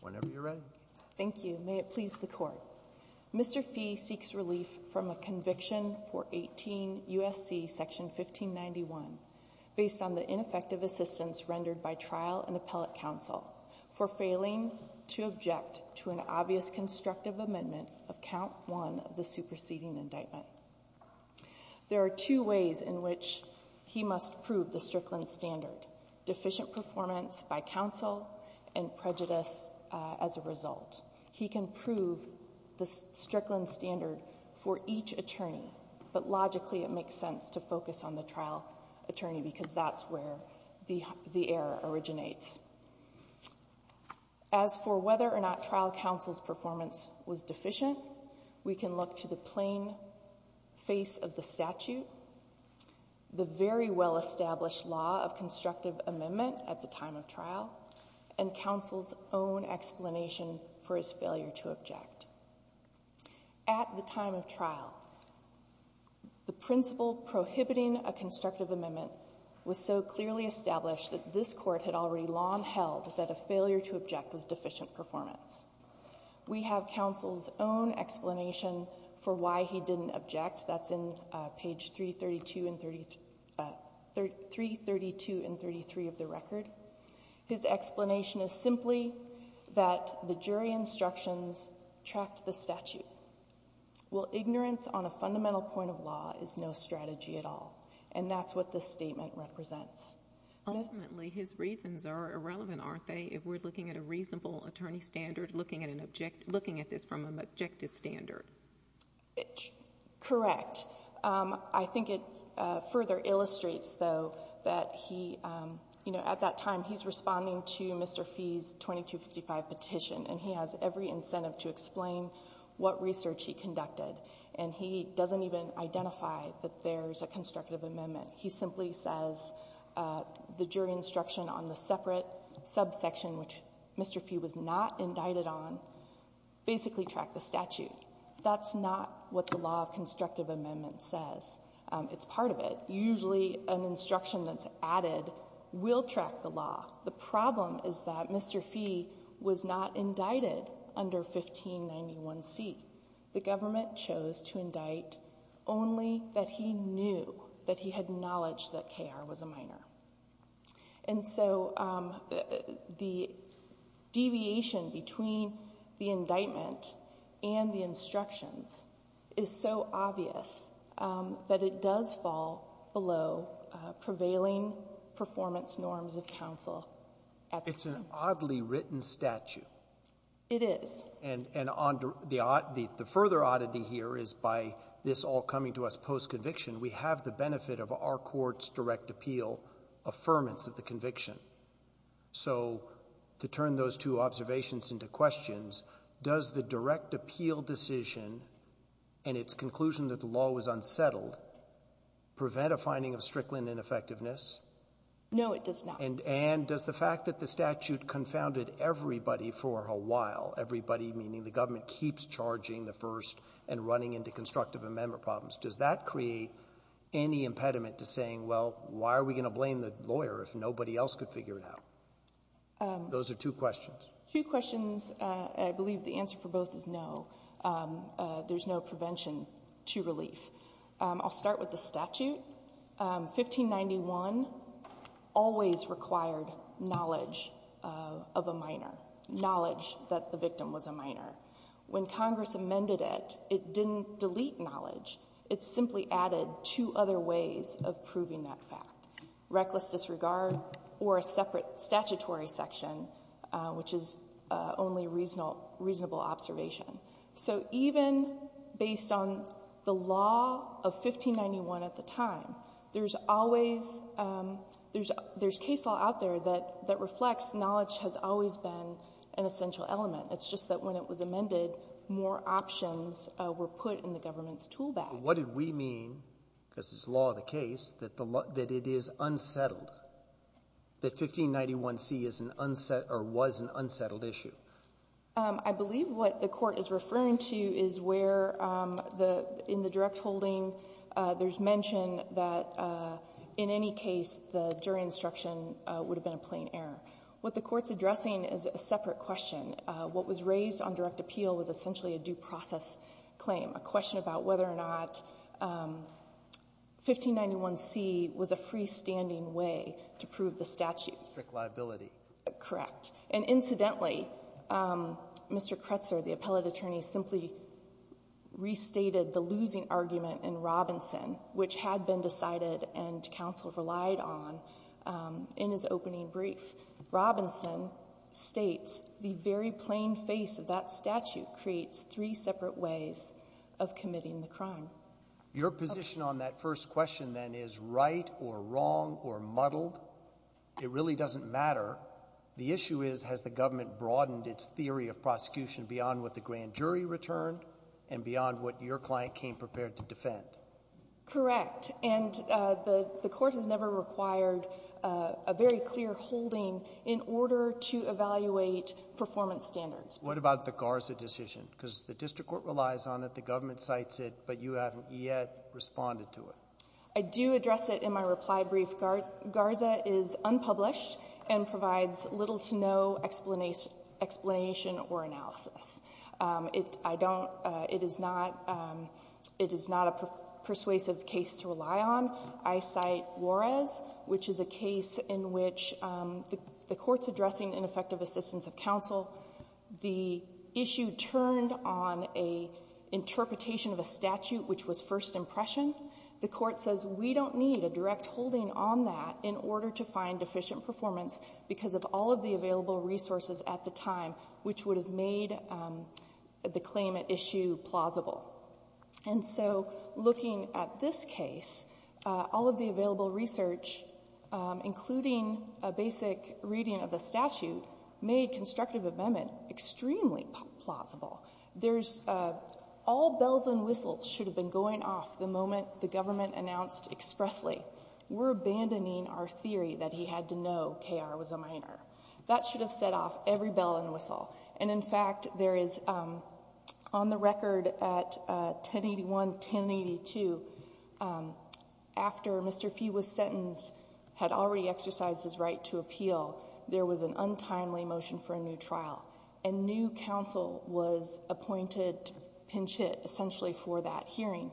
Whenever you're ready. Thank you. May it please the court. Mr. Phea seeks relief from a conviction for 18 U.S.C. section 1591 based on the ineffective assistance rendered by trial and appellate counsel for failing to object to an obvious constructive amendment of count one of the superseding indictment. There are two ways in which he must prove the Strickland standard. Deficient performance by counsel and prejudice as a result. He can prove the Strickland standard for each attorney but logically it makes sense to focus on the trial attorney because that's where the error originates. As for whether or not trial counsel's performance was deficient, we can look to the plain face of the statute, the very well established law of constructive amendment at the time of trial and counsel's own explanation for his failure to object. At the time of trial, the principle prohibiting a constructive amendment was so clearly established that this court had already long held that a failure to object was deficient performance. We have counsel's own explanation for why he didn't object. That's in page 332 and 33 of the record. His explanation is simply that the jury instructions tracked the statute. Well ignorance on a fundamental point of law is no strategy at all and that's what this statement represents. Ultimately his reasons are irrelevant, aren't they, if we're looking at a reasonable attorney standard, looking at an objective, looking at this from an objective standard. Correct. I think it further illustrates, though, that he, you know, at that time he's responding to Mr. Fee's 2255 petition and he has every incentive to explain what research he conducted and he doesn't even identify that there's a constructive amendment. He simply says the jury instruction on the separate subsection, which Mr. Fee was not indicted on, basically tracked the statute. That's not what the law of constructive amendment says. It's part of it. Usually an instruction that's added will track the law. The problem is that Mr. Fee was not indicted under 1591C. The government chose to indict only that he knew that he had knowledge that KR was a minor. And so the deviation between the indictment and the instructions is so obvious that it does fall below prevailing performance norms of counsel. It's an oddly written statute. It is. And the further oddity here is by this all coming to us post-conviction, we have the benefit of our court's direct appeal affirmance of the conviction. So to turn those two observations into questions, does the direct appeal decision and its conclusion that the law was unsettled prevent a finding of Strickland ineffectiveness? No, it does not. And does the fact that the statute confounded everybody for a while, everybody meaning the government keeps charging the first and running into constructive amendment problems, does that create any impediment to saying, well, why are we going to blame the lawyer if nobody else could figure it out? Those are two questions. Two questions. I believe the answer for both is no. There's no prevention to relief. I'll start with the statute. 1591 always required knowledge of a minor, knowledge that the victim was a minor. When Congress amended it, it didn't delete knowledge. It simply added two other ways of proving that fact, reckless disregard or a separate statutory section, which is only a reasonable observation. So even based on the law of 1591 at the time, there's case law out there that reflects knowledge has always been an essential element. It's just that when it was amended, more options were put in the government's tool bag. What did we mean, because it's law of the case, that it is unsettled, that 1591C was an unsettled issue? I believe what the Court is referring to is where in the direct holding there's mention that in any case, the jury instruction would have been a plain error. What the Court's addressing is a separate question. What was raised on direct appeal was essentially a due process claim, a question about whether or not 1591C was a freestanding way to prove the statute. Strict liability. Correct. And incidentally, Mr. Kretzer, the appellate attorney, simply restated the losing argument in Robinson, which had been decided and counsel relied on in his opening brief. Robinson states the very plain face of that statute creates three separate ways of committing the crime. Your position on that first question, then, is right or wrong or muddled? It really doesn't matter. The issue is, has the government broadened its theory of prosecution beyond what the grand jury returned and beyond what your client came prepared to defend? Correct. And the Court has never required a very clear holding in order to evaluate performance standards. What about the Garza decision? Because the district court relies on it, the government cites it, but you haven't yet responded to it. I do address it in my reply brief. Garza is unpublished and provides little to no explanation or analysis. I don't — it is not a persuasive case to rely on. I cite Juarez, which is a case in which the Court's addressing ineffective assistance of counsel. The issue turned on an interpretation of a statute which was first impression. The Court says we don't need a direct holding on that in order to find deficient performance because of all of the available resources at the time which would have made the claim at issue plausible. And so, looking at this case, all of the available research, including a basic reading of the statute, made constructive amendment extremely plausible. There's — all bells and whistles should have been going off the moment the government announced expressly, we're abandoning our theory that he had to know K.R. was a minor. That should have set off every bell and whistle. And in fact, there is — on the record at 1081, 1082, after Mr. Fee was sentenced, had already exercised his right to appeal, there was an untimely motion for a new trial. And new counsel was appointed to pinch hit, essentially, for that hearing.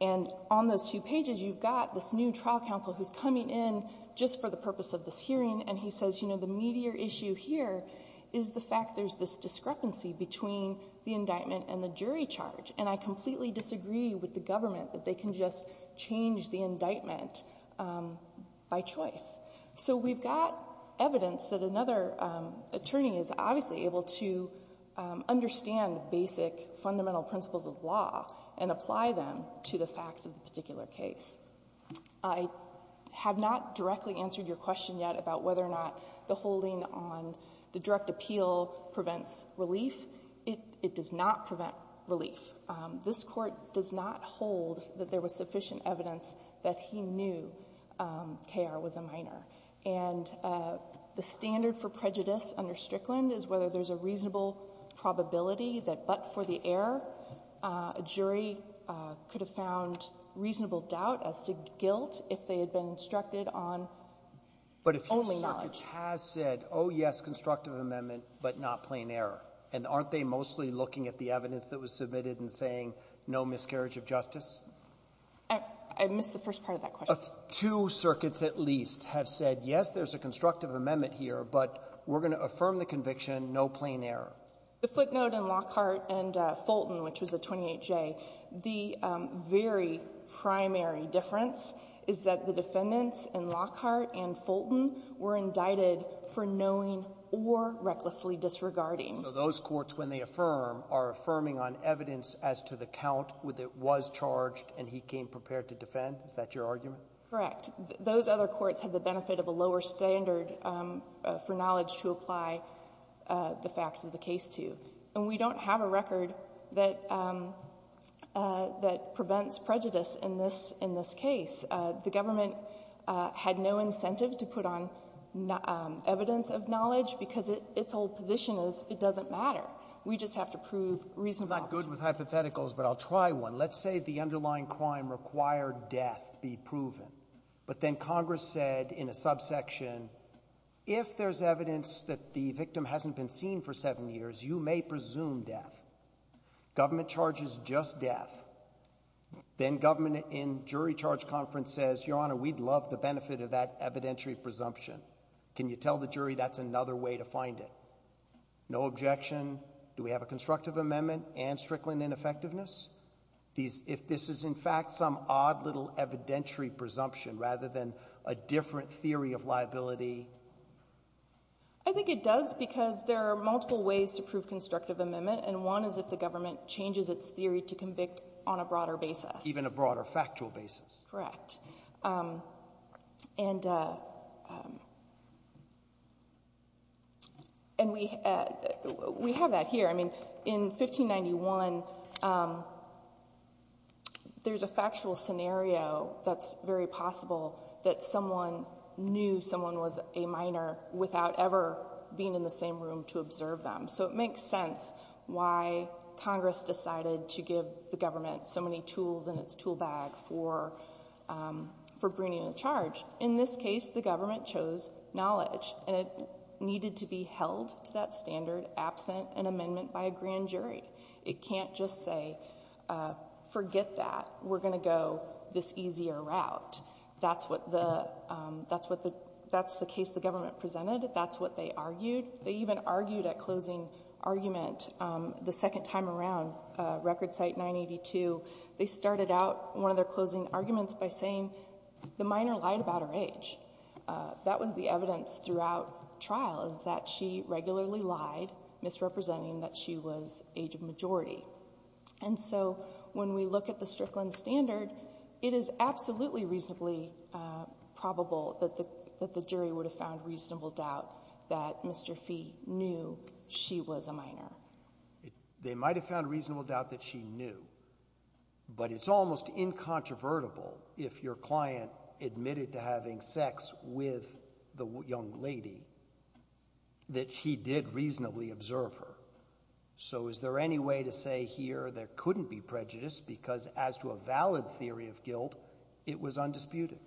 And on those two pages, you've got this new trial counsel who's coming in just for the purpose of this hearing, and he says, you know, the meatier issue here is the fact there's this discrepancy between the indictment and the jury charge. And I completely disagree with the government that they can just change the indictment by choice. So we've got evidence that another attorney is obviously able to understand basic fundamental principles of law and apply them to the facts of the particular case. I have not directly answered your question yet about whether or not the holding on the direct appeal prevents relief. It does not prevent relief. This Court does not hold that there was sufficient evidence that he knew K.R. was a minor. And the standard for prejudice under Strickland is whether there's a reasonable probability that but for the error, a jury could have found reasonable doubt as to guilt if they had been instructed on only knowledge. But if your circuit has said, oh, yes, constructive amendment, but not plain error, and aren't they mostly looking at the evidence that was submitted and saying, no miscarriage of justice? I missed the first part of that question. Two circuits at least have said, yes, there's a constructive amendment here, but we're going to affirm the conviction, no plain error. The footnote in Lockhart and Fulton, which was a 28J, the very primary difference is that the defendants in Lockhart and Fulton were indicted for knowing or recklessly disregarding. So those courts, when they affirm, are affirming on evidence as to the count with it was charged and he came prepared to defend? Is that your argument? Correct. Those other courts have the benefit of a lower standard for knowledge to apply the facts of the case to. And we don't have a record that prevents prejudice in this case. The government had no incentive to put on evidence of knowledge because its whole position is it doesn't matter. We just have to prove reasonable. I'm not good with hypotheticals, but I'll try one. Let's say the underlying crime required death be proven. But then Congress said in a subsection, if there's evidence that the victim hasn't been seen for seven years, you may presume death. Government charges just death. Then government in jury charge conference says, your honor, we'd love the benefit of that evidentiary presumption. Can you tell the jury that's another way to find it? No objection. Do we have a constructive amendment and Strickland ineffectiveness? If this is in fact some odd little evidentiary presumption rather than a different theory of liability? I think it does because there are multiple ways to prove constructive amendment. And one is if the government changes its theory to convict on a broader basis. Even a broader factual basis. Correct. And we have that here. I mean, in 1591, there's a factual scenario that's very possible that someone knew someone was a minor without ever being in the same room to observe them. So it makes sense why Congress decided to give the government so many tools in its for bringing a charge. In this case, the government chose knowledge. And it needed to be held to that standard absent an amendment by a grand jury. It can't just say, forget that. We're going to go this easier route. That's the case the government presented. That's what they argued. They even argued a closing argument the second time around, record site 982. They started out one of their closing arguments by saying the minor lied about her age. That was the evidence throughout trial, is that she regularly lied, misrepresenting that she was age of majority. And so when we look at the Strickland standard, it is absolutely reasonably probable that the jury would have found reasonable doubt that Mr. Fee knew she was a minor. They might have found reasonable doubt that she knew. But it's almost incontrovertible if your client admitted to having sex with the young lady that she did reasonably observe her. So is there any way to say here there couldn't be prejudice? Because as to a valid theory of guilt, it was undisputed.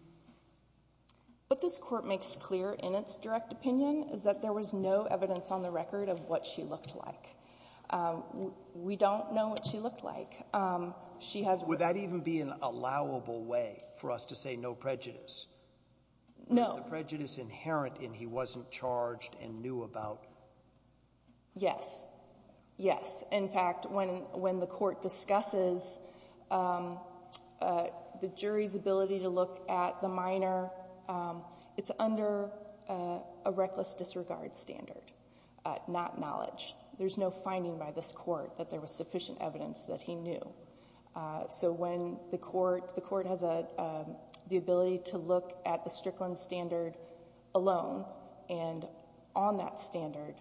What this court makes clear in its direct opinion is that there was no evidence on the record of what she looked like. We don't know what she looked like. She has- Would that even be an allowable way for us to say no prejudice? No. Is the prejudice inherent in he wasn't charged and knew about? Yes. Yes. In fact, when the court discusses the jury's ability to look at the minor, it's under a reckless disregard standard, not knowledge. There's no finding by this court that there was sufficient evidence that he knew. So when the court has the ability to look at the Strickland standard alone, and on that standard,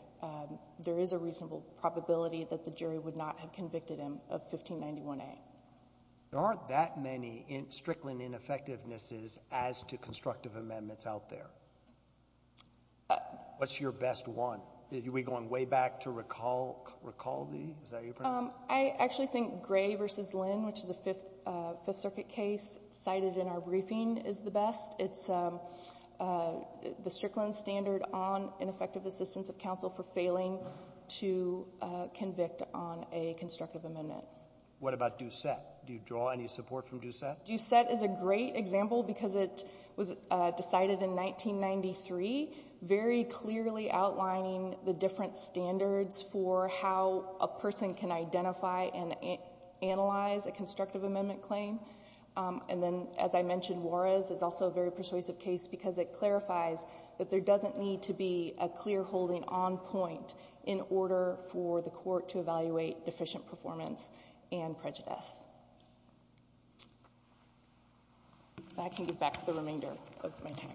there is a reasonable probability that the jury would not have convicted him of 1591A. There aren't that many Strickland ineffectivenesses as to constructive amendments out there. What's your best one? Are we going way back to Recaldi? Is that how you pronounce it? I actually think Gray v. Lynn, which is a Fifth Circuit case cited in our briefing, is the best. It's the Strickland standard on ineffective assistance of counsel for failing to convict on a constructive amendment. What about Doucette? Do you draw any support from Doucette? Doucette is a great example because it was decided in 1993, very clearly outlining the different standards for how a person can identify and analyze a constructive amendment claim. And then, as I mentioned, Juarez is also a very persuasive case because it clarifies that there doesn't need to be a clear holding on point in order for the court to evaluate deficient performance and prejudice. I can give back the remainder of my time.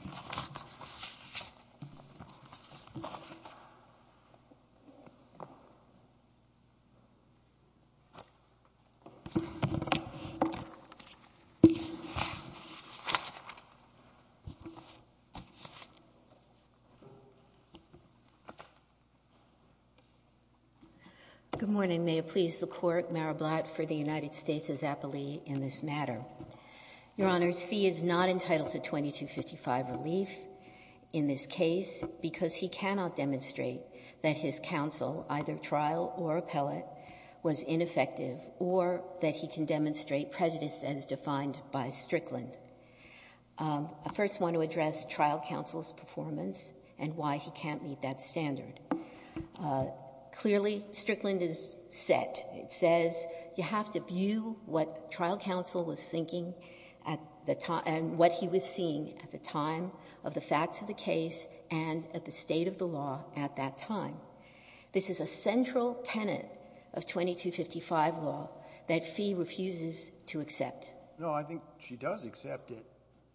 Good morning. May it please the Court, Mara Blatt for the United States' appellee in this matter. Your Honor, Fee is not entitled to 2255 relief in this case because he cannot demonstrate that his counsel, either trial or appellate, was ineffective, or that he can demonstrate prejudice as defined by Strickland. I first want to address trial counsel's performance and why he can't meet that standard. Clearly, Strickland is set. It says you have to view what trial counsel was thinking at the time and what he was seeing at the time of the facts of the case and at the state of the law at that time. This is a central tenet of 2255 law that Fee refuses to accept. No, I think she does accept it.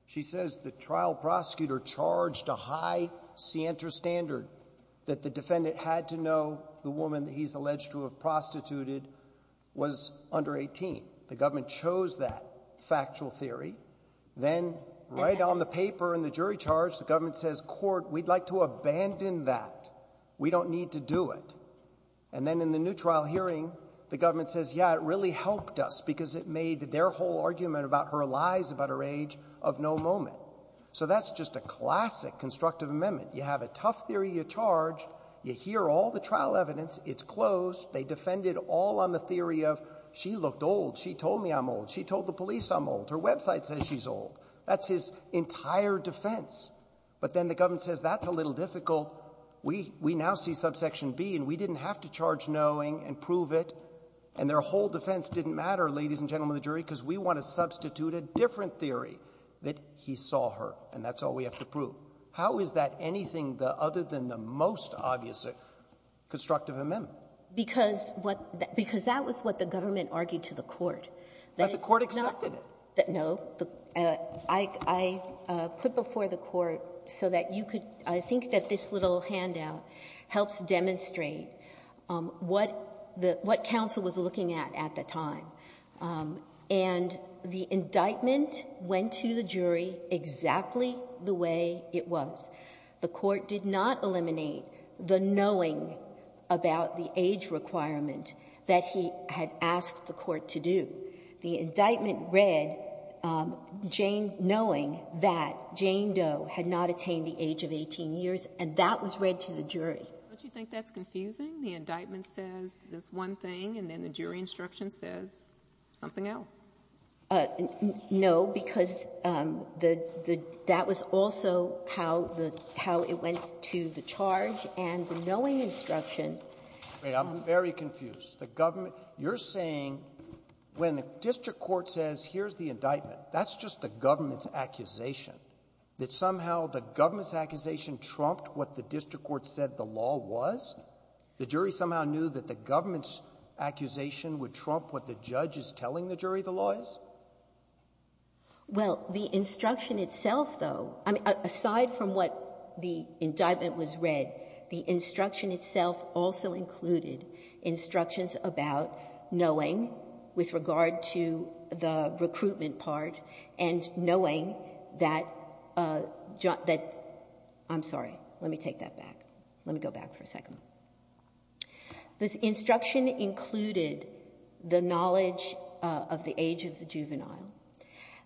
She says the trial prosecutor charged a high scienter standard that the defendant had to know the woman that he's alleged to have prostituted was under 18. The government chose that factual theory. Then, right on the paper in the jury charge, the government says, court, we'd like to abandon that. We don't need to do it. And then in the new trial hearing, the government says, yeah, it really helped us because it made their whole argument about her lies about her age of no moment. So that's just a classic constructive amendment. You have a tough theory you charge. You hear all the trial evidence. It's closed. They defended all on the theory of she looked old. She told me I'm old. She told the police I'm old. Her website says she's old. That's his entire defense. But then the government says that's a little difficult. We now see subsection B and we didn't have to charge knowing and prove it. And their whole defense didn't matter, ladies and gentlemen of the jury, because we want to substitute a different theory that he saw her, and that's all we have to prove. How is that anything other than the most obvious constructive amendment? Because what the — because that was what the government argued to the court. But the court accepted it. No. I put before the court so that you could — I think that this little handout helps demonstrate what the — what counsel was looking at at the time. And the indictment went to the jury exactly the way it was. The court did not eliminate the knowing about the age requirement that he had asked the court to do. The indictment read, knowing that Jane Doe had not attained the age of 18 years, and that was read to the jury. Don't you think that's confusing? The indictment says this one thing, and then the jury instruction says something else. No, because the — that was also how the — how it went to the charge. And the knowing instruction — Wait. I'm very confused. The government — you're saying when the district court says, here's the indictment, that's just the government's accusation, that somehow the government's accusation trumped what the district court said the law was? The jury somehow knew that the government's accusation would trump what the judge is telling the jury the law is? Well, the instruction itself, though — I mean, aside from what the indictment was read, the instruction itself also included instructions about knowing with regard to the recruitment part and knowing that — I'm sorry. Let me take that back. Let me go back for a second. The instruction included the knowledge of the age of the juvenile.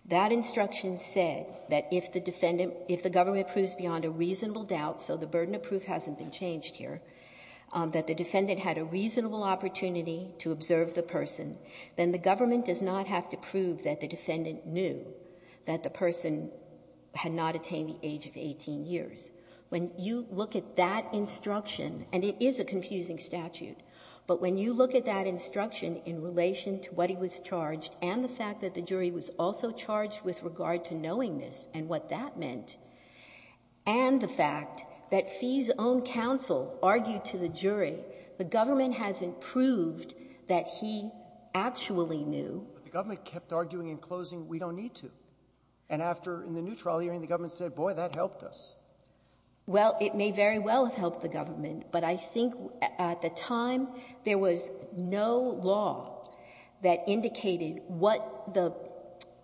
That instruction said that if the defendant — if the government proves beyond a reasonable doubt, so the burden of proof hasn't been changed here, that the defendant had a reasonable opportunity to observe the person, then the government does not have to prove that the defendant knew that the person had not attained the age of 18 years. When you look at that instruction — and it is a confusing statute, but when you look at that instruction in relation to what he was charged and the fact that the jury was also charged with regard to knowing this and what that meant, and the fact that Fee's own counsel argued to the jury the government hasn't proved that he actually knew. But the government kept arguing in closing, we don't need to. And after — in the new trial hearing, the government said, boy, that helped us. Well, it may very well have helped the government, but I think at the time, there was no law that indicated what the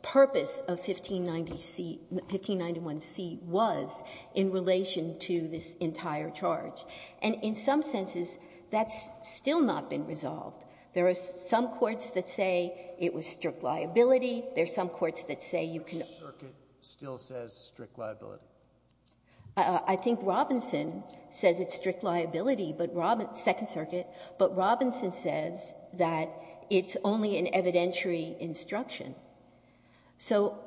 purpose of 1590C — 1591C was in relation to this entire charge. And in some senses, that's still not been resolved. There are some courts that say it was strict liability. There are some courts that say you can — Breyer. Which circuit still says strict liability? I think Robinson says it's strict liability, but — Second Circuit. So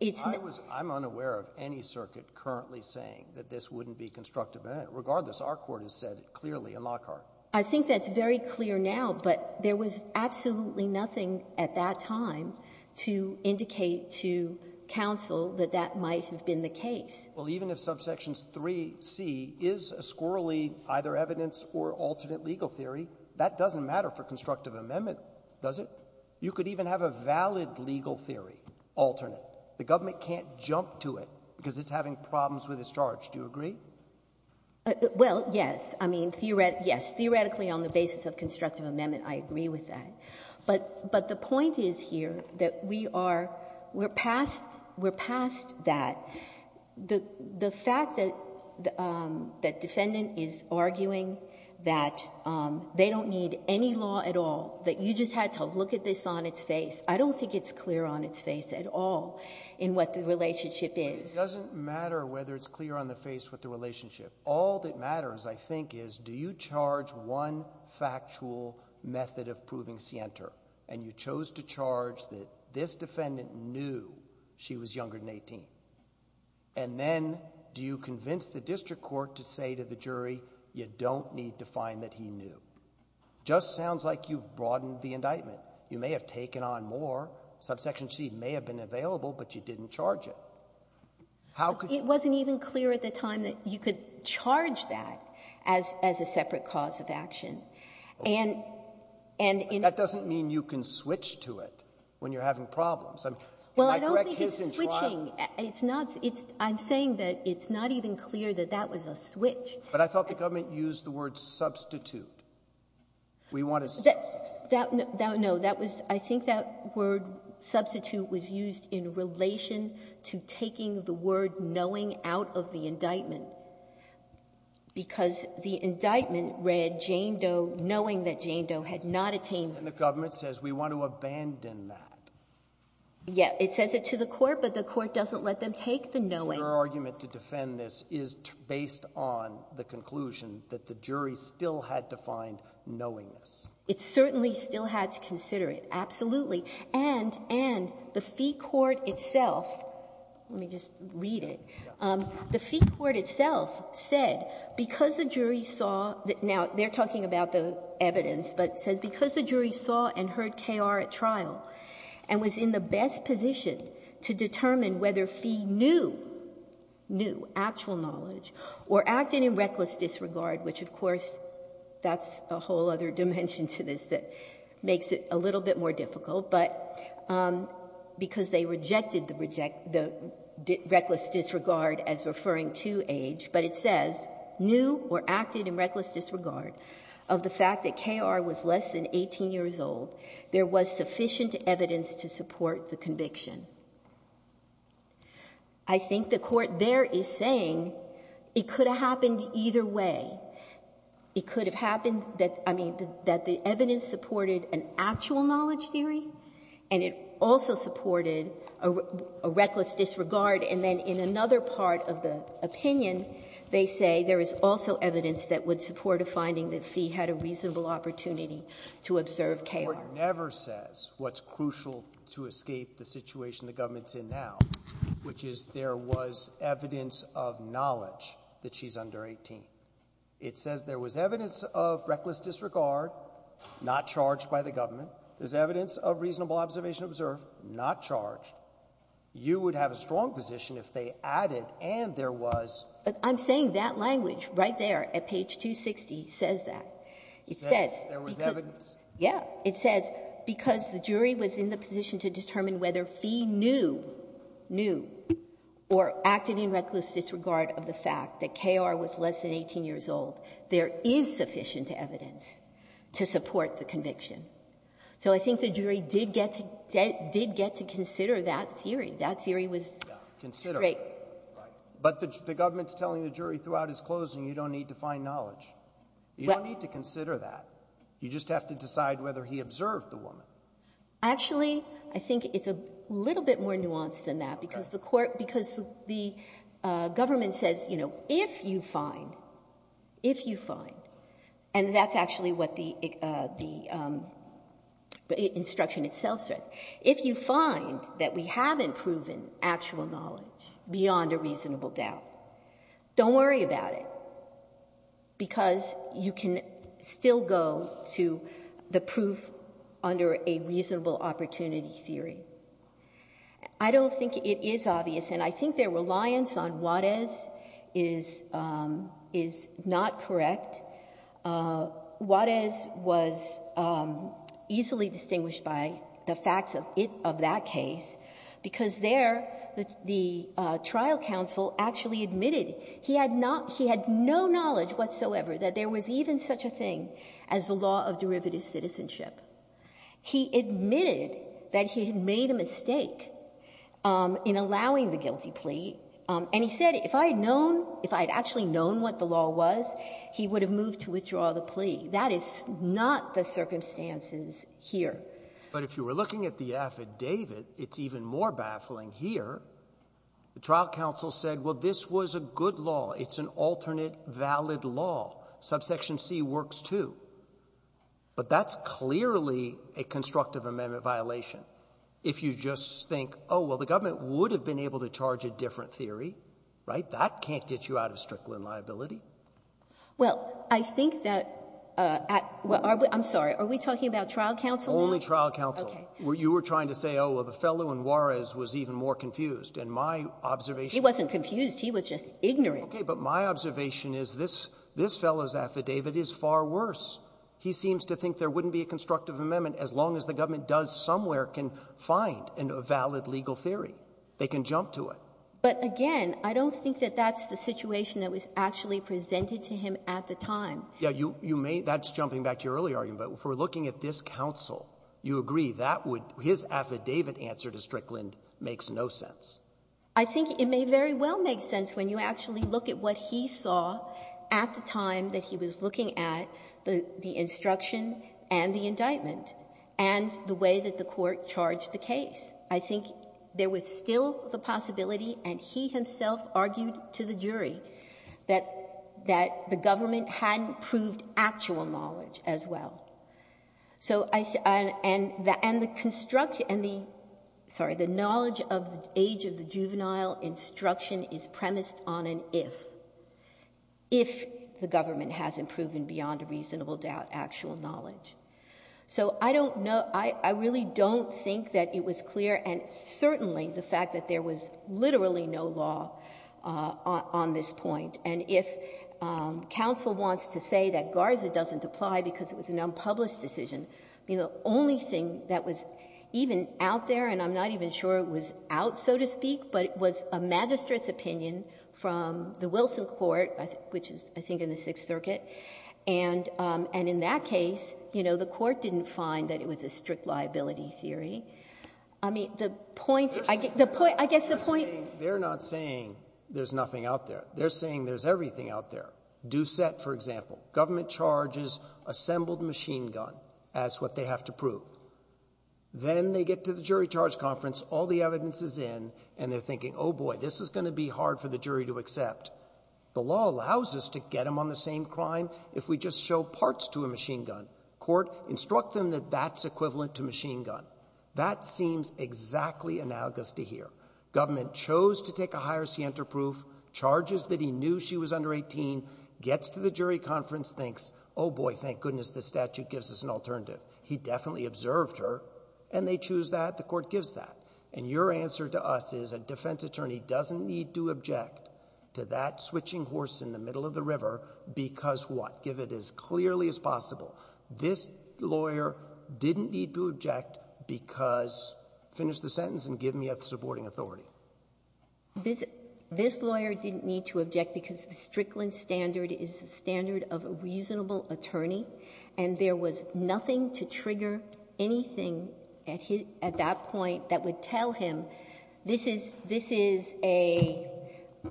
it's not — I'm unaware of any circuit currently saying that this wouldn't be constructive amendment. Regardless, our court has said it clearly in Lockhart. I think that's very clear now, but there was absolutely nothing at that time to indicate to counsel that that might have been the case. Well, even if subsection 3C is a squirrelly either evidence or alternate legal theory, that doesn't matter for constructive amendment, does it? You could even have a valid legal theory, alternate. The government can't jump to it because it's having problems with its charge. Do you agree? Well, yes. I mean, yes, theoretically on the basis of constructive amendment, I agree with that. But the point is here that we are — we're past — we're past that. The fact that defendant is arguing that they don't need any law at all, that you just had to look at this on its face, I don't think it's clear on its face at all in what the relationship is. But it doesn't matter whether it's clear on the face with the relationship. All that matters, I think, is do you charge one factual method of proving scienter, and you chose to charge that this defendant knew she was younger than 18? And then do you convince the district court to say to the jury, you don't need to find that he knew? It just sounds like you've broadened the indictment. You may have taken on more. Subsection C may have been available, but you didn't charge it. How could you? It wasn't even clear at the time that you could charge that as a separate cause of action. And in — That doesn't mean you can switch to it when you're having problems. I mean, in my correct case in trial — Well, I don't think it's switching. It's not — I'm saying that it's not even clear that that was a switch. But I thought the government used the word substitute. We want a substitute. That — no, that was — I think that word substitute was used in relation to taking the word knowing out of the indictment, because the indictment read Jane Doe knowing that Jane Doe had not attained — And the government says we want to abandon that. Yeah. It says it to the court, but the court doesn't let them take the knowing. Your argument to defend this is based on the conclusion that the jury still had to find knowingness. It certainly still had to consider it, absolutely. And — and the Fee Court itself — let me just read it. The Fee Court itself said because the jury saw — now, they're talking about the evidence, but it says because the jury saw and heard K.R. at trial and was in the best position to determine whether Fee knew — knew actual knowledge or acted in reckless disregard, which, of course, that's a whole other dimension to this that makes it a little bit more difficult, but — because they rejected the — the reckless disregard as referring to age. But it says, knew or acted in reckless disregard of the fact that K.R. was less than a third of the conviction. I think the Court there is saying it could have happened either way. It could have happened that — I mean, that the evidence supported an actual knowledge theory, and it also supported a reckless disregard, and then in another part of the opinion, they say there is also evidence that would support a finding that Fee had a reasonable opportunity to observe K.R. never says what's crucial to escape the situation the government's in now, which is there was evidence of knowledge that she's under 18. It says there was evidence of reckless disregard, not charged by the government. There's evidence of reasonable observation observed, not charged. You would have a strong position if they added, and there was — But I'm saying that language right there at page 260 says that. It says — Says there was evidence. Yeah. It says because the jury was in the position to determine whether Fee knew — knew or acted in reckless disregard of the fact that K.R. was less than 18 years old, there is sufficient evidence to support the conviction. So I think the jury did get to — did get to consider that theory. That theory was — Yeah. Considered. Right. But the government's telling the jury throughout its closing, you don't need to find knowledge. You don't need to consider that. You just have to decide whether he observed the woman. Actually, I think it's a little bit more nuanced than that, because the court — because the government says, you know, if you find — if you find — and that's actually what the — the instruction itself says. If you find that we haven't proven actual knowledge beyond a reasonable doubt, don't worry about it, because you can still go to the proof under a reasonable opportunity theory. I don't think it is obvious, and I think their reliance on Juarez is — is not correct. Juarez was easily distinguished by the facts of it — of that case, because there, the — the trial counsel actually admitted he had not — he had no knowledge whatsoever that there was even such a thing as the law of derivative citizenship. He admitted that he had made a mistake in allowing the guilty plea, and he said if I had known — if I had actually known what the law was, he would have moved to withdraw the plea. That is not the circumstances here. But if you were looking at the affidavit, it's even more baffling here. The trial counsel said, well, this was a good law. It's an alternate valid law. Subsection C works, too. But that's clearly a constructive amendment violation. If you just think, oh, well, the government would have been able to charge a different theory, right, that can't get you out of Strickland liability. Well, I think that — I'm sorry. Are we talking about trial counsel? Only trial counsel. Okay. You were trying to say, oh, well, the fellow in Juarez was even more confused. And my observation — He wasn't confused. He was just ignorant. Okay. But my observation is this — this fellow's affidavit is far worse. He seems to think there wouldn't be a constructive amendment as long as the government does somewhere can find a valid legal theory. They can jump to it. But again, I don't think that that's the situation that was actually presented to him at the time. Yeah. You may — that's jumping back to your earlier argument. But if we're looking at this counsel, you agree that would — his affidavit answer to Strickland makes no sense. I think it may very well make sense when you actually look at what he saw at the time that he was looking at the — the instruction and the indictment and the way that the Court charged the case. I think there was still the possibility, and he himself argued to the jury, that the government hadn't proved actual knowledge as well. So I — and the construction — and the — sorry, the knowledge of the age of the juvenile instruction is premised on an if, if the government hasn't proven beyond a reasonable doubt actual knowledge. So I don't know — I really don't think that it was clear, and certainly the fact that there was literally no law on this point. And if counsel wants to say that Garza doesn't apply because it was an unpublished decision, the only thing that was even out there, and I'm not even sure it was out, so to speak, but it was a magistrate's opinion from the Wilson court, which is, I think, in the Sixth Circuit. And in that case, you know, the court didn't find that it was a strict liability theory. I mean, the point — I guess the point — They're saying — they're not saying there's nothing out there. They're saying there's everything out there. Doucette, for example, government charges assembled machine gun as what they have to prove. Then they get to the jury charge conference, all the evidence is in, and they're thinking, oh, boy, this is going to be hard for the jury to accept. The law allows us to get them on the same crime if we just show parts to a machine gun. Court, instruct them that that's equivalent to machine gun. That seems exactly analogous to here. Government chose to take a higher scienter proof, charges that he knew she was under 18, gets to the jury conference, thinks, oh, boy, thank goodness this statute gives us an alternative. He definitely observed her, and they choose that. The court gives that. And your answer to us is a defense attorney doesn't need to object to that switching horse in the middle of the river because what? Give it as clearly as possible. This lawyer didn't need to object because — finish the sentence and give me a supporting authority. This — this lawyer didn't need to object because the Strickland standard is the standard of a reasonable attorney, and there was nothing to trigger anything at that point that would tell him this is — this is a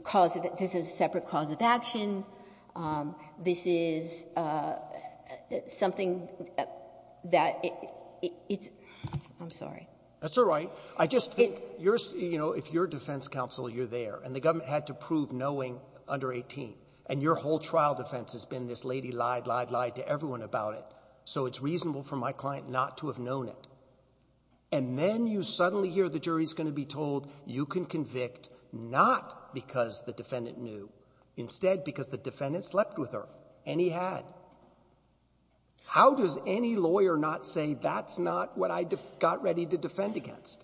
cause of — this is a separate cause of action. This is something that it's — I'm sorry. That's all right. I just think you're — you know, if you're defense counsel, you're there, and the government had to prove knowing under 18, and your whole trial defense has been this lady lied, lied, lied to everyone about it. So it's reasonable for my client not to have known it. And then you suddenly hear the jury's going to be told you can convict not because the defendant knew, instead because the defendant slept with her, and he had. How does any lawyer not say that's not what I got ready to defend against?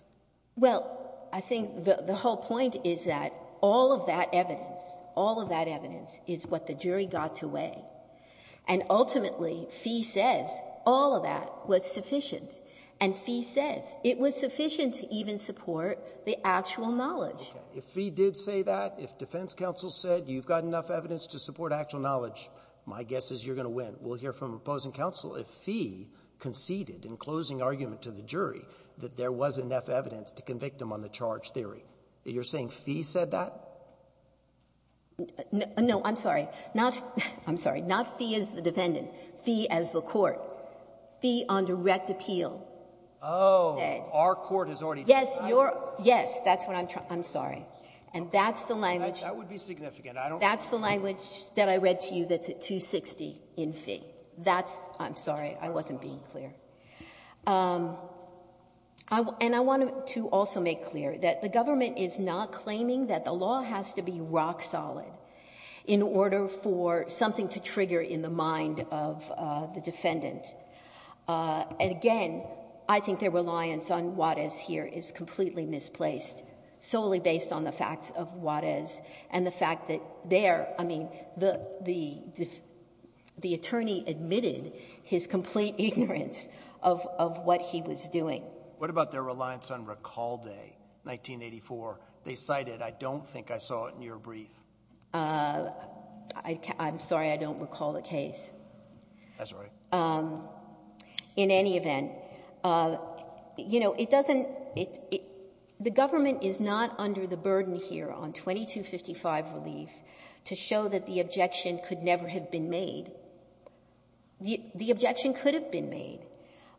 Well, I think the whole point is that all of that evidence, all of that evidence, is what the jury got to weigh. And ultimately, Fee says all of that was sufficient. And Fee says it was sufficient to even support the actual knowledge. Okay. If Fee did say that, if defense counsel said you've got enough evidence to support actual knowledge, my guess is you're going to win. We'll hear from opposing counsel if Fee conceded in closing argument to the jury that there was enough evidence to convict him on the charge theory. You're saying Fee said that? No. I'm sorry. Not — I'm sorry. Not Fee as the defendant. Fee as the court. Fee on direct appeal. Oh. Our court has already decided that. That's what I'm — I'm sorry. And that's the language — That would be significant. I don't — That's the language that I read to you that's at 260 in Fee. That's — I'm sorry. I wasn't being clear. And I wanted to also make clear that the government is not claiming that the law has to be rock solid in order for something to trigger in the mind of the defendant. And again, I think their reliance on Juarez here is completely misplaced, solely based on the facts of Juarez and the fact that there — I mean, the — the attorney admitted his complete ignorance of — of what he was doing. What about their reliance on Recall Day, 1984? They cited, I don't think I saw it in your brief. I can't — I'm sorry. That's all right. In any event, you know, it doesn't — the government is not under the burden here on 2255 relief to show that the objection could never have been made. The objection could have been made.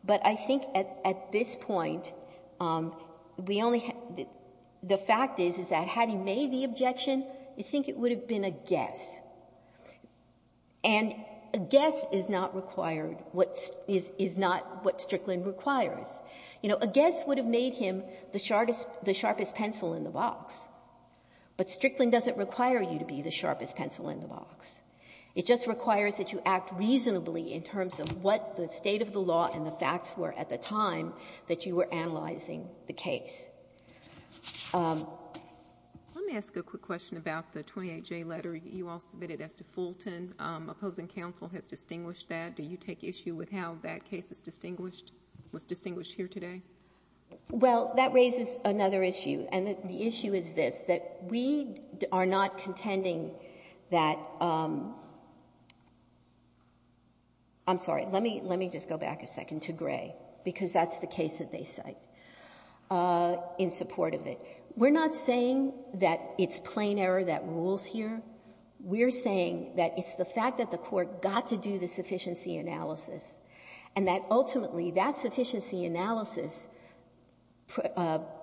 But I think at this point, we only — the fact is, is that had he made the objection, I think it would have been a guess. And a guess is not required what — is not what Strickland requires. You know, a guess would have made him the sharpest pencil in the box, but Strickland doesn't require you to be the sharpest pencil in the box. It just requires that you act reasonably in terms of what the state of the law and the facts were at the time that you were analyzing the case. Let me ask a quick question about the 28J letter you all submitted as to Fulton. Opposing counsel has distinguished that. Do you take issue with how that case is distinguished, was distinguished here today? Well, that raises another issue. And the issue is this, that we are not contending that — I'm sorry. Let me — let me just go back a second to Gray, because that's the case that they cite. We're not saying that it's plain error that rules here. We're saying that it's the fact that the Court got to do the sufficiency analysis and that ultimately that sufficiency analysis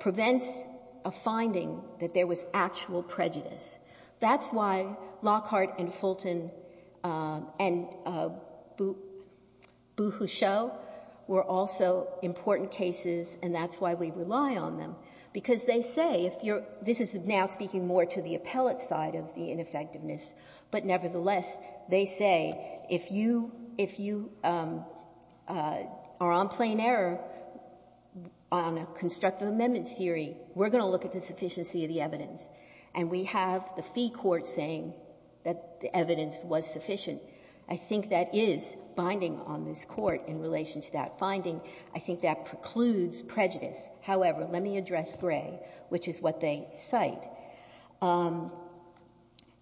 prevents a finding that there was actual prejudice. That's why Lockhart and Fulton and Buhu Cho were also important cases, and that's why we rely on them. Because they say if you're — this is now speaking more to the appellate side of the ineffectiveness, but nevertheless, they say if you — if you are on plain error on a constructive amendment theory, we're going to look at the sufficiency of the evidence, and we have the fee court saying that the evidence was sufficient. I think that is binding on this Court in relation to that finding. I think that precludes prejudice. However, let me address Gray, which is what they cite.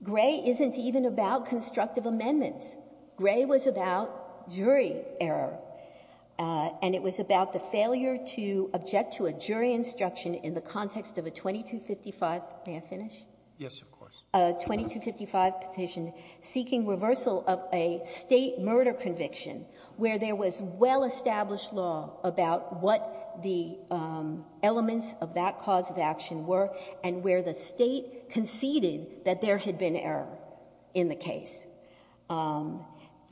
Gray isn't even about constructive amendments. Gray was about jury error, and it was about the failure to object to a jury instruction in the context of a 2255 — may I finish? Yes, of course. A 2255 petition seeking reversal of a State murder conviction where there was well-established law about what the elements of that cause of action were and where the State conceded that there had been error in the case.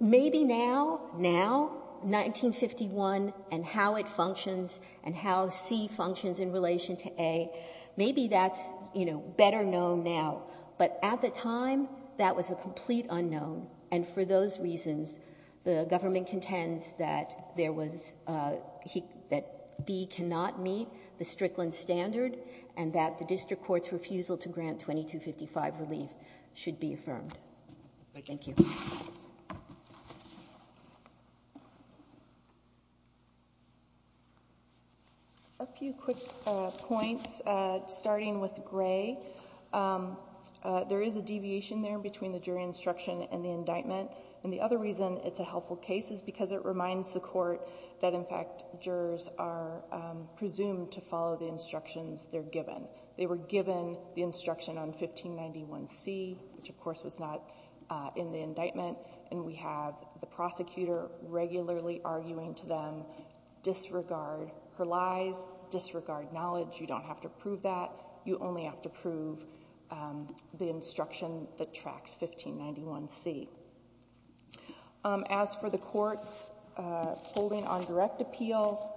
Maybe now, now, 1951 and how it functions and how C functions in relation to A, maybe that's, you know, better known now. But at the time, that was a complete unknown, and for those reasons, the government contends that there was — that B cannot meet the Strickland standard and that the district court's refusal to grant 2255 relief should be affirmed. Thank you. A few quick points, starting with Gray. There is a deviation there between the jury instruction and the indictment. And the other reason it's a helpful case is because it reminds the Court that, in fact, jurors are presumed to follow the instructions they're given. They were given the instruction on 1591C, which, of course, was not in the indictment, and we have the prosecutor regularly arguing to them, disregard her lies, disregard knowledge. You don't have to prove that. You only have to prove the instruction that tracks 1591C. As for the Court's holding on direct appeal,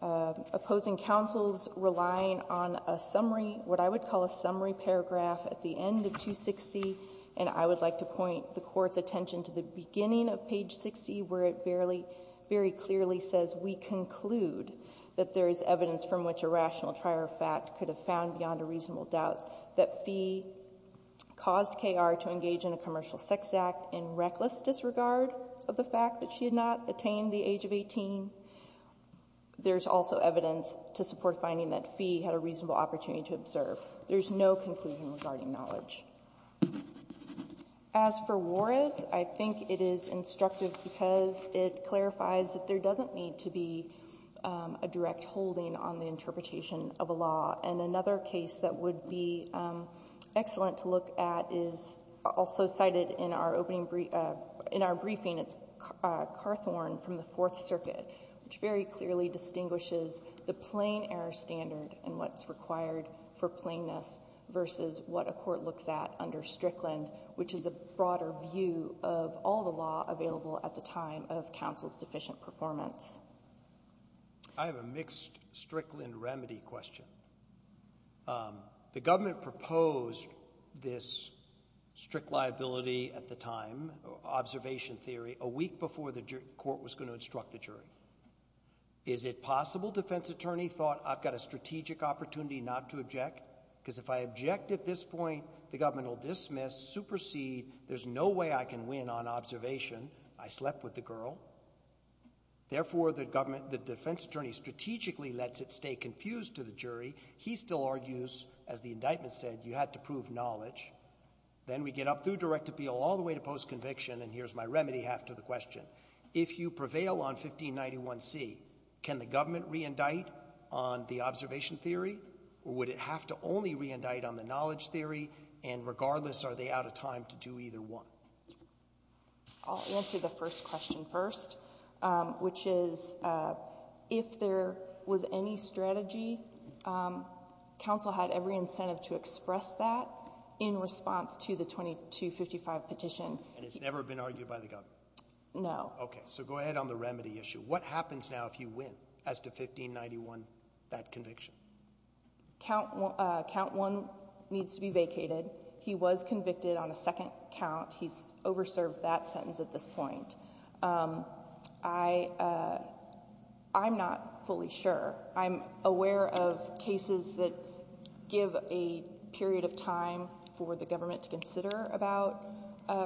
opposing counsel's relying on a summary — what I would call a summary paragraph at the end of 260, and I would like to point the Court's attention to the beginning of page 60, where it very clearly says, we conclude that there is evidence from which a rational trier of fact could have found beyond a reasonable doubt that Fee caused K.R. to engage in a commercial sex act in reckless disregard of the fact that she had not attained the age of 18. There's also evidence to support finding that Fee had a reasonable opportunity to observe. There's no conclusion regarding knowledge. As for Juarez, I think it is instructive because it clarifies that there doesn't need to be a direct holding on the interpretation of a law. And another case that would be excellent to look at is also cited in our briefing. It's Carthorne from the Fourth Circuit, which very clearly distinguishes the plain error standard and what's required for plainness versus what a court looks at under Strickland, which is a broader view of all the law available at the time of counsel's deficient performance. I have a mixed Strickland remedy question. The government proposed this strict liability at the time, observation theory, a week before the court was going to instruct the jury. Is it possible defense attorney thought I've got a strategic opportunity not to object? Because if I object at this point, the government will dismiss, supersede. There's no way I can win on observation. I slept with the girl. Therefore, the government, the defense attorney strategically lets it stay confused to the jury. He still argues, as the indictment said, you had to prove knowledge. Then we get up through direct appeal all the way to post-conviction. And here's my remedy half to the question. If you prevail on 1591C, can the government re-indict on the observation theory? Or would it have to only re-indict on the knowledge theory? And regardless, are they out of time to do either one? I'll answer the first question first, which is if there was any strategy, counsel had every incentive to express that in response to the 2255 petition. And it's never been argued by the government? No. Okay. So go ahead on the remedy issue. What happens now if you win as to 1591, that conviction? Count one needs to be vacated. He was convicted on a second count. He's over-served that sentence at this point. I, I'm not fully sure. I'm aware of cases that give a period of time for the government to consider about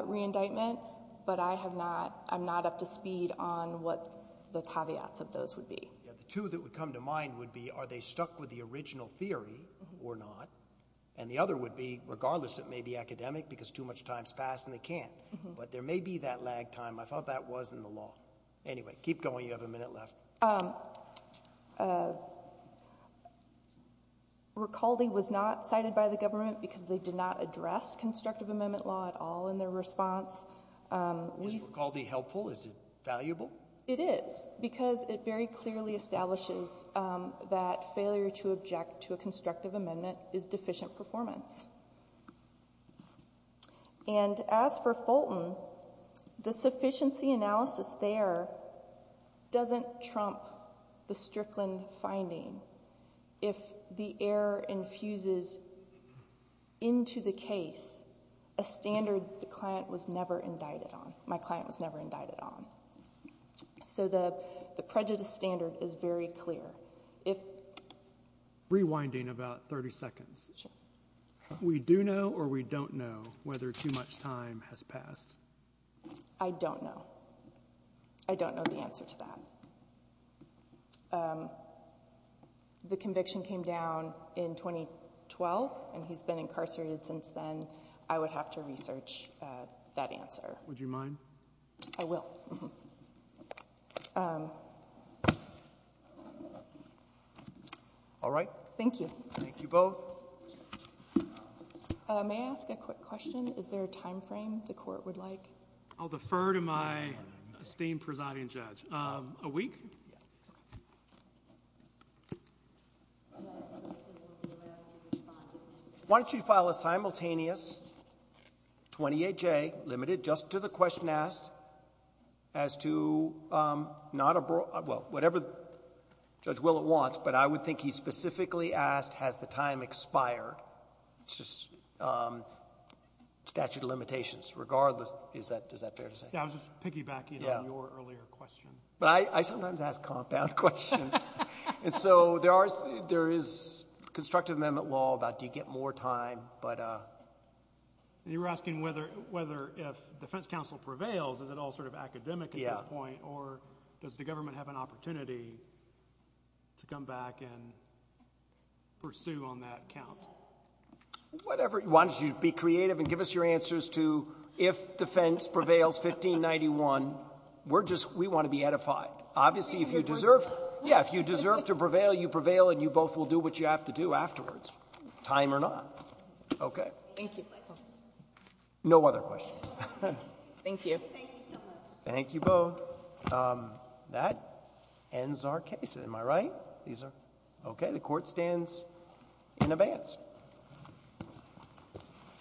re-indictment. But I have not, I'm not up to speed on what the caveats of those would be. Yeah. The two that would come to mind would be, are they stuck with the original theory or not? And the other would be, regardless, it may be academic because too much time's passed and they can't, but there may be that lag time. I thought that was in the law. Anyway, keep going. You have a minute left. Ricaldi was not cited by the government because they did not address constructive amendment law at all in their response. Is Ricaldi helpful? Is it valuable? It is because it very clearly establishes that failure to object to a constructive amendment is deficient performance. And as for Fulton, the sufficiency analysis there doesn't trump the Strickland finding if the error infuses into the case a standard the client was never indicted on, my client was never indicted on. So the, the prejudice standard is very clear. If... Rewinding about 30 seconds. We do know or we don't know whether too much time has passed? I don't know. I don't know the answer to that. The conviction came down in 2012 and he's been incarcerated since then. I would have to research that answer. Would you mind? I will. All right. Thank you. Thank you both. May I ask a quick question? Is there a time frame the court would like? I'll defer to my esteemed presiding judge. A week? Why don't you file a simultaneous 28J limited just to the question asked as to not a broad, well, whatever Judge Willett wants, but I would think he specifically asked has the time expired? It's just statute of limitations regardless. Is that, is that fair to say? Yeah, I was just piggybacking on your earlier question. But I, I sometimes ask compound questions. And so there are, there is constructive amendment law about do you get more time? But you were asking whether, whether if defense counsel prevails, is it all sort of academic at this point? Or does the government have an opportunity to come back and pursue on that count? Whatever. Why don't you be creative and give us your answers to if defense prevails 1591, we're just, we want to be edified. Obviously, if you deserve, yeah, if you deserve to prevail, you prevail and you both will do what you have to do afterwards, time or not. Okay. Thank you, Michael. No other questions. Thank you. Thank you both. That ends our case. Am I right? These are okay. The court stands in advance.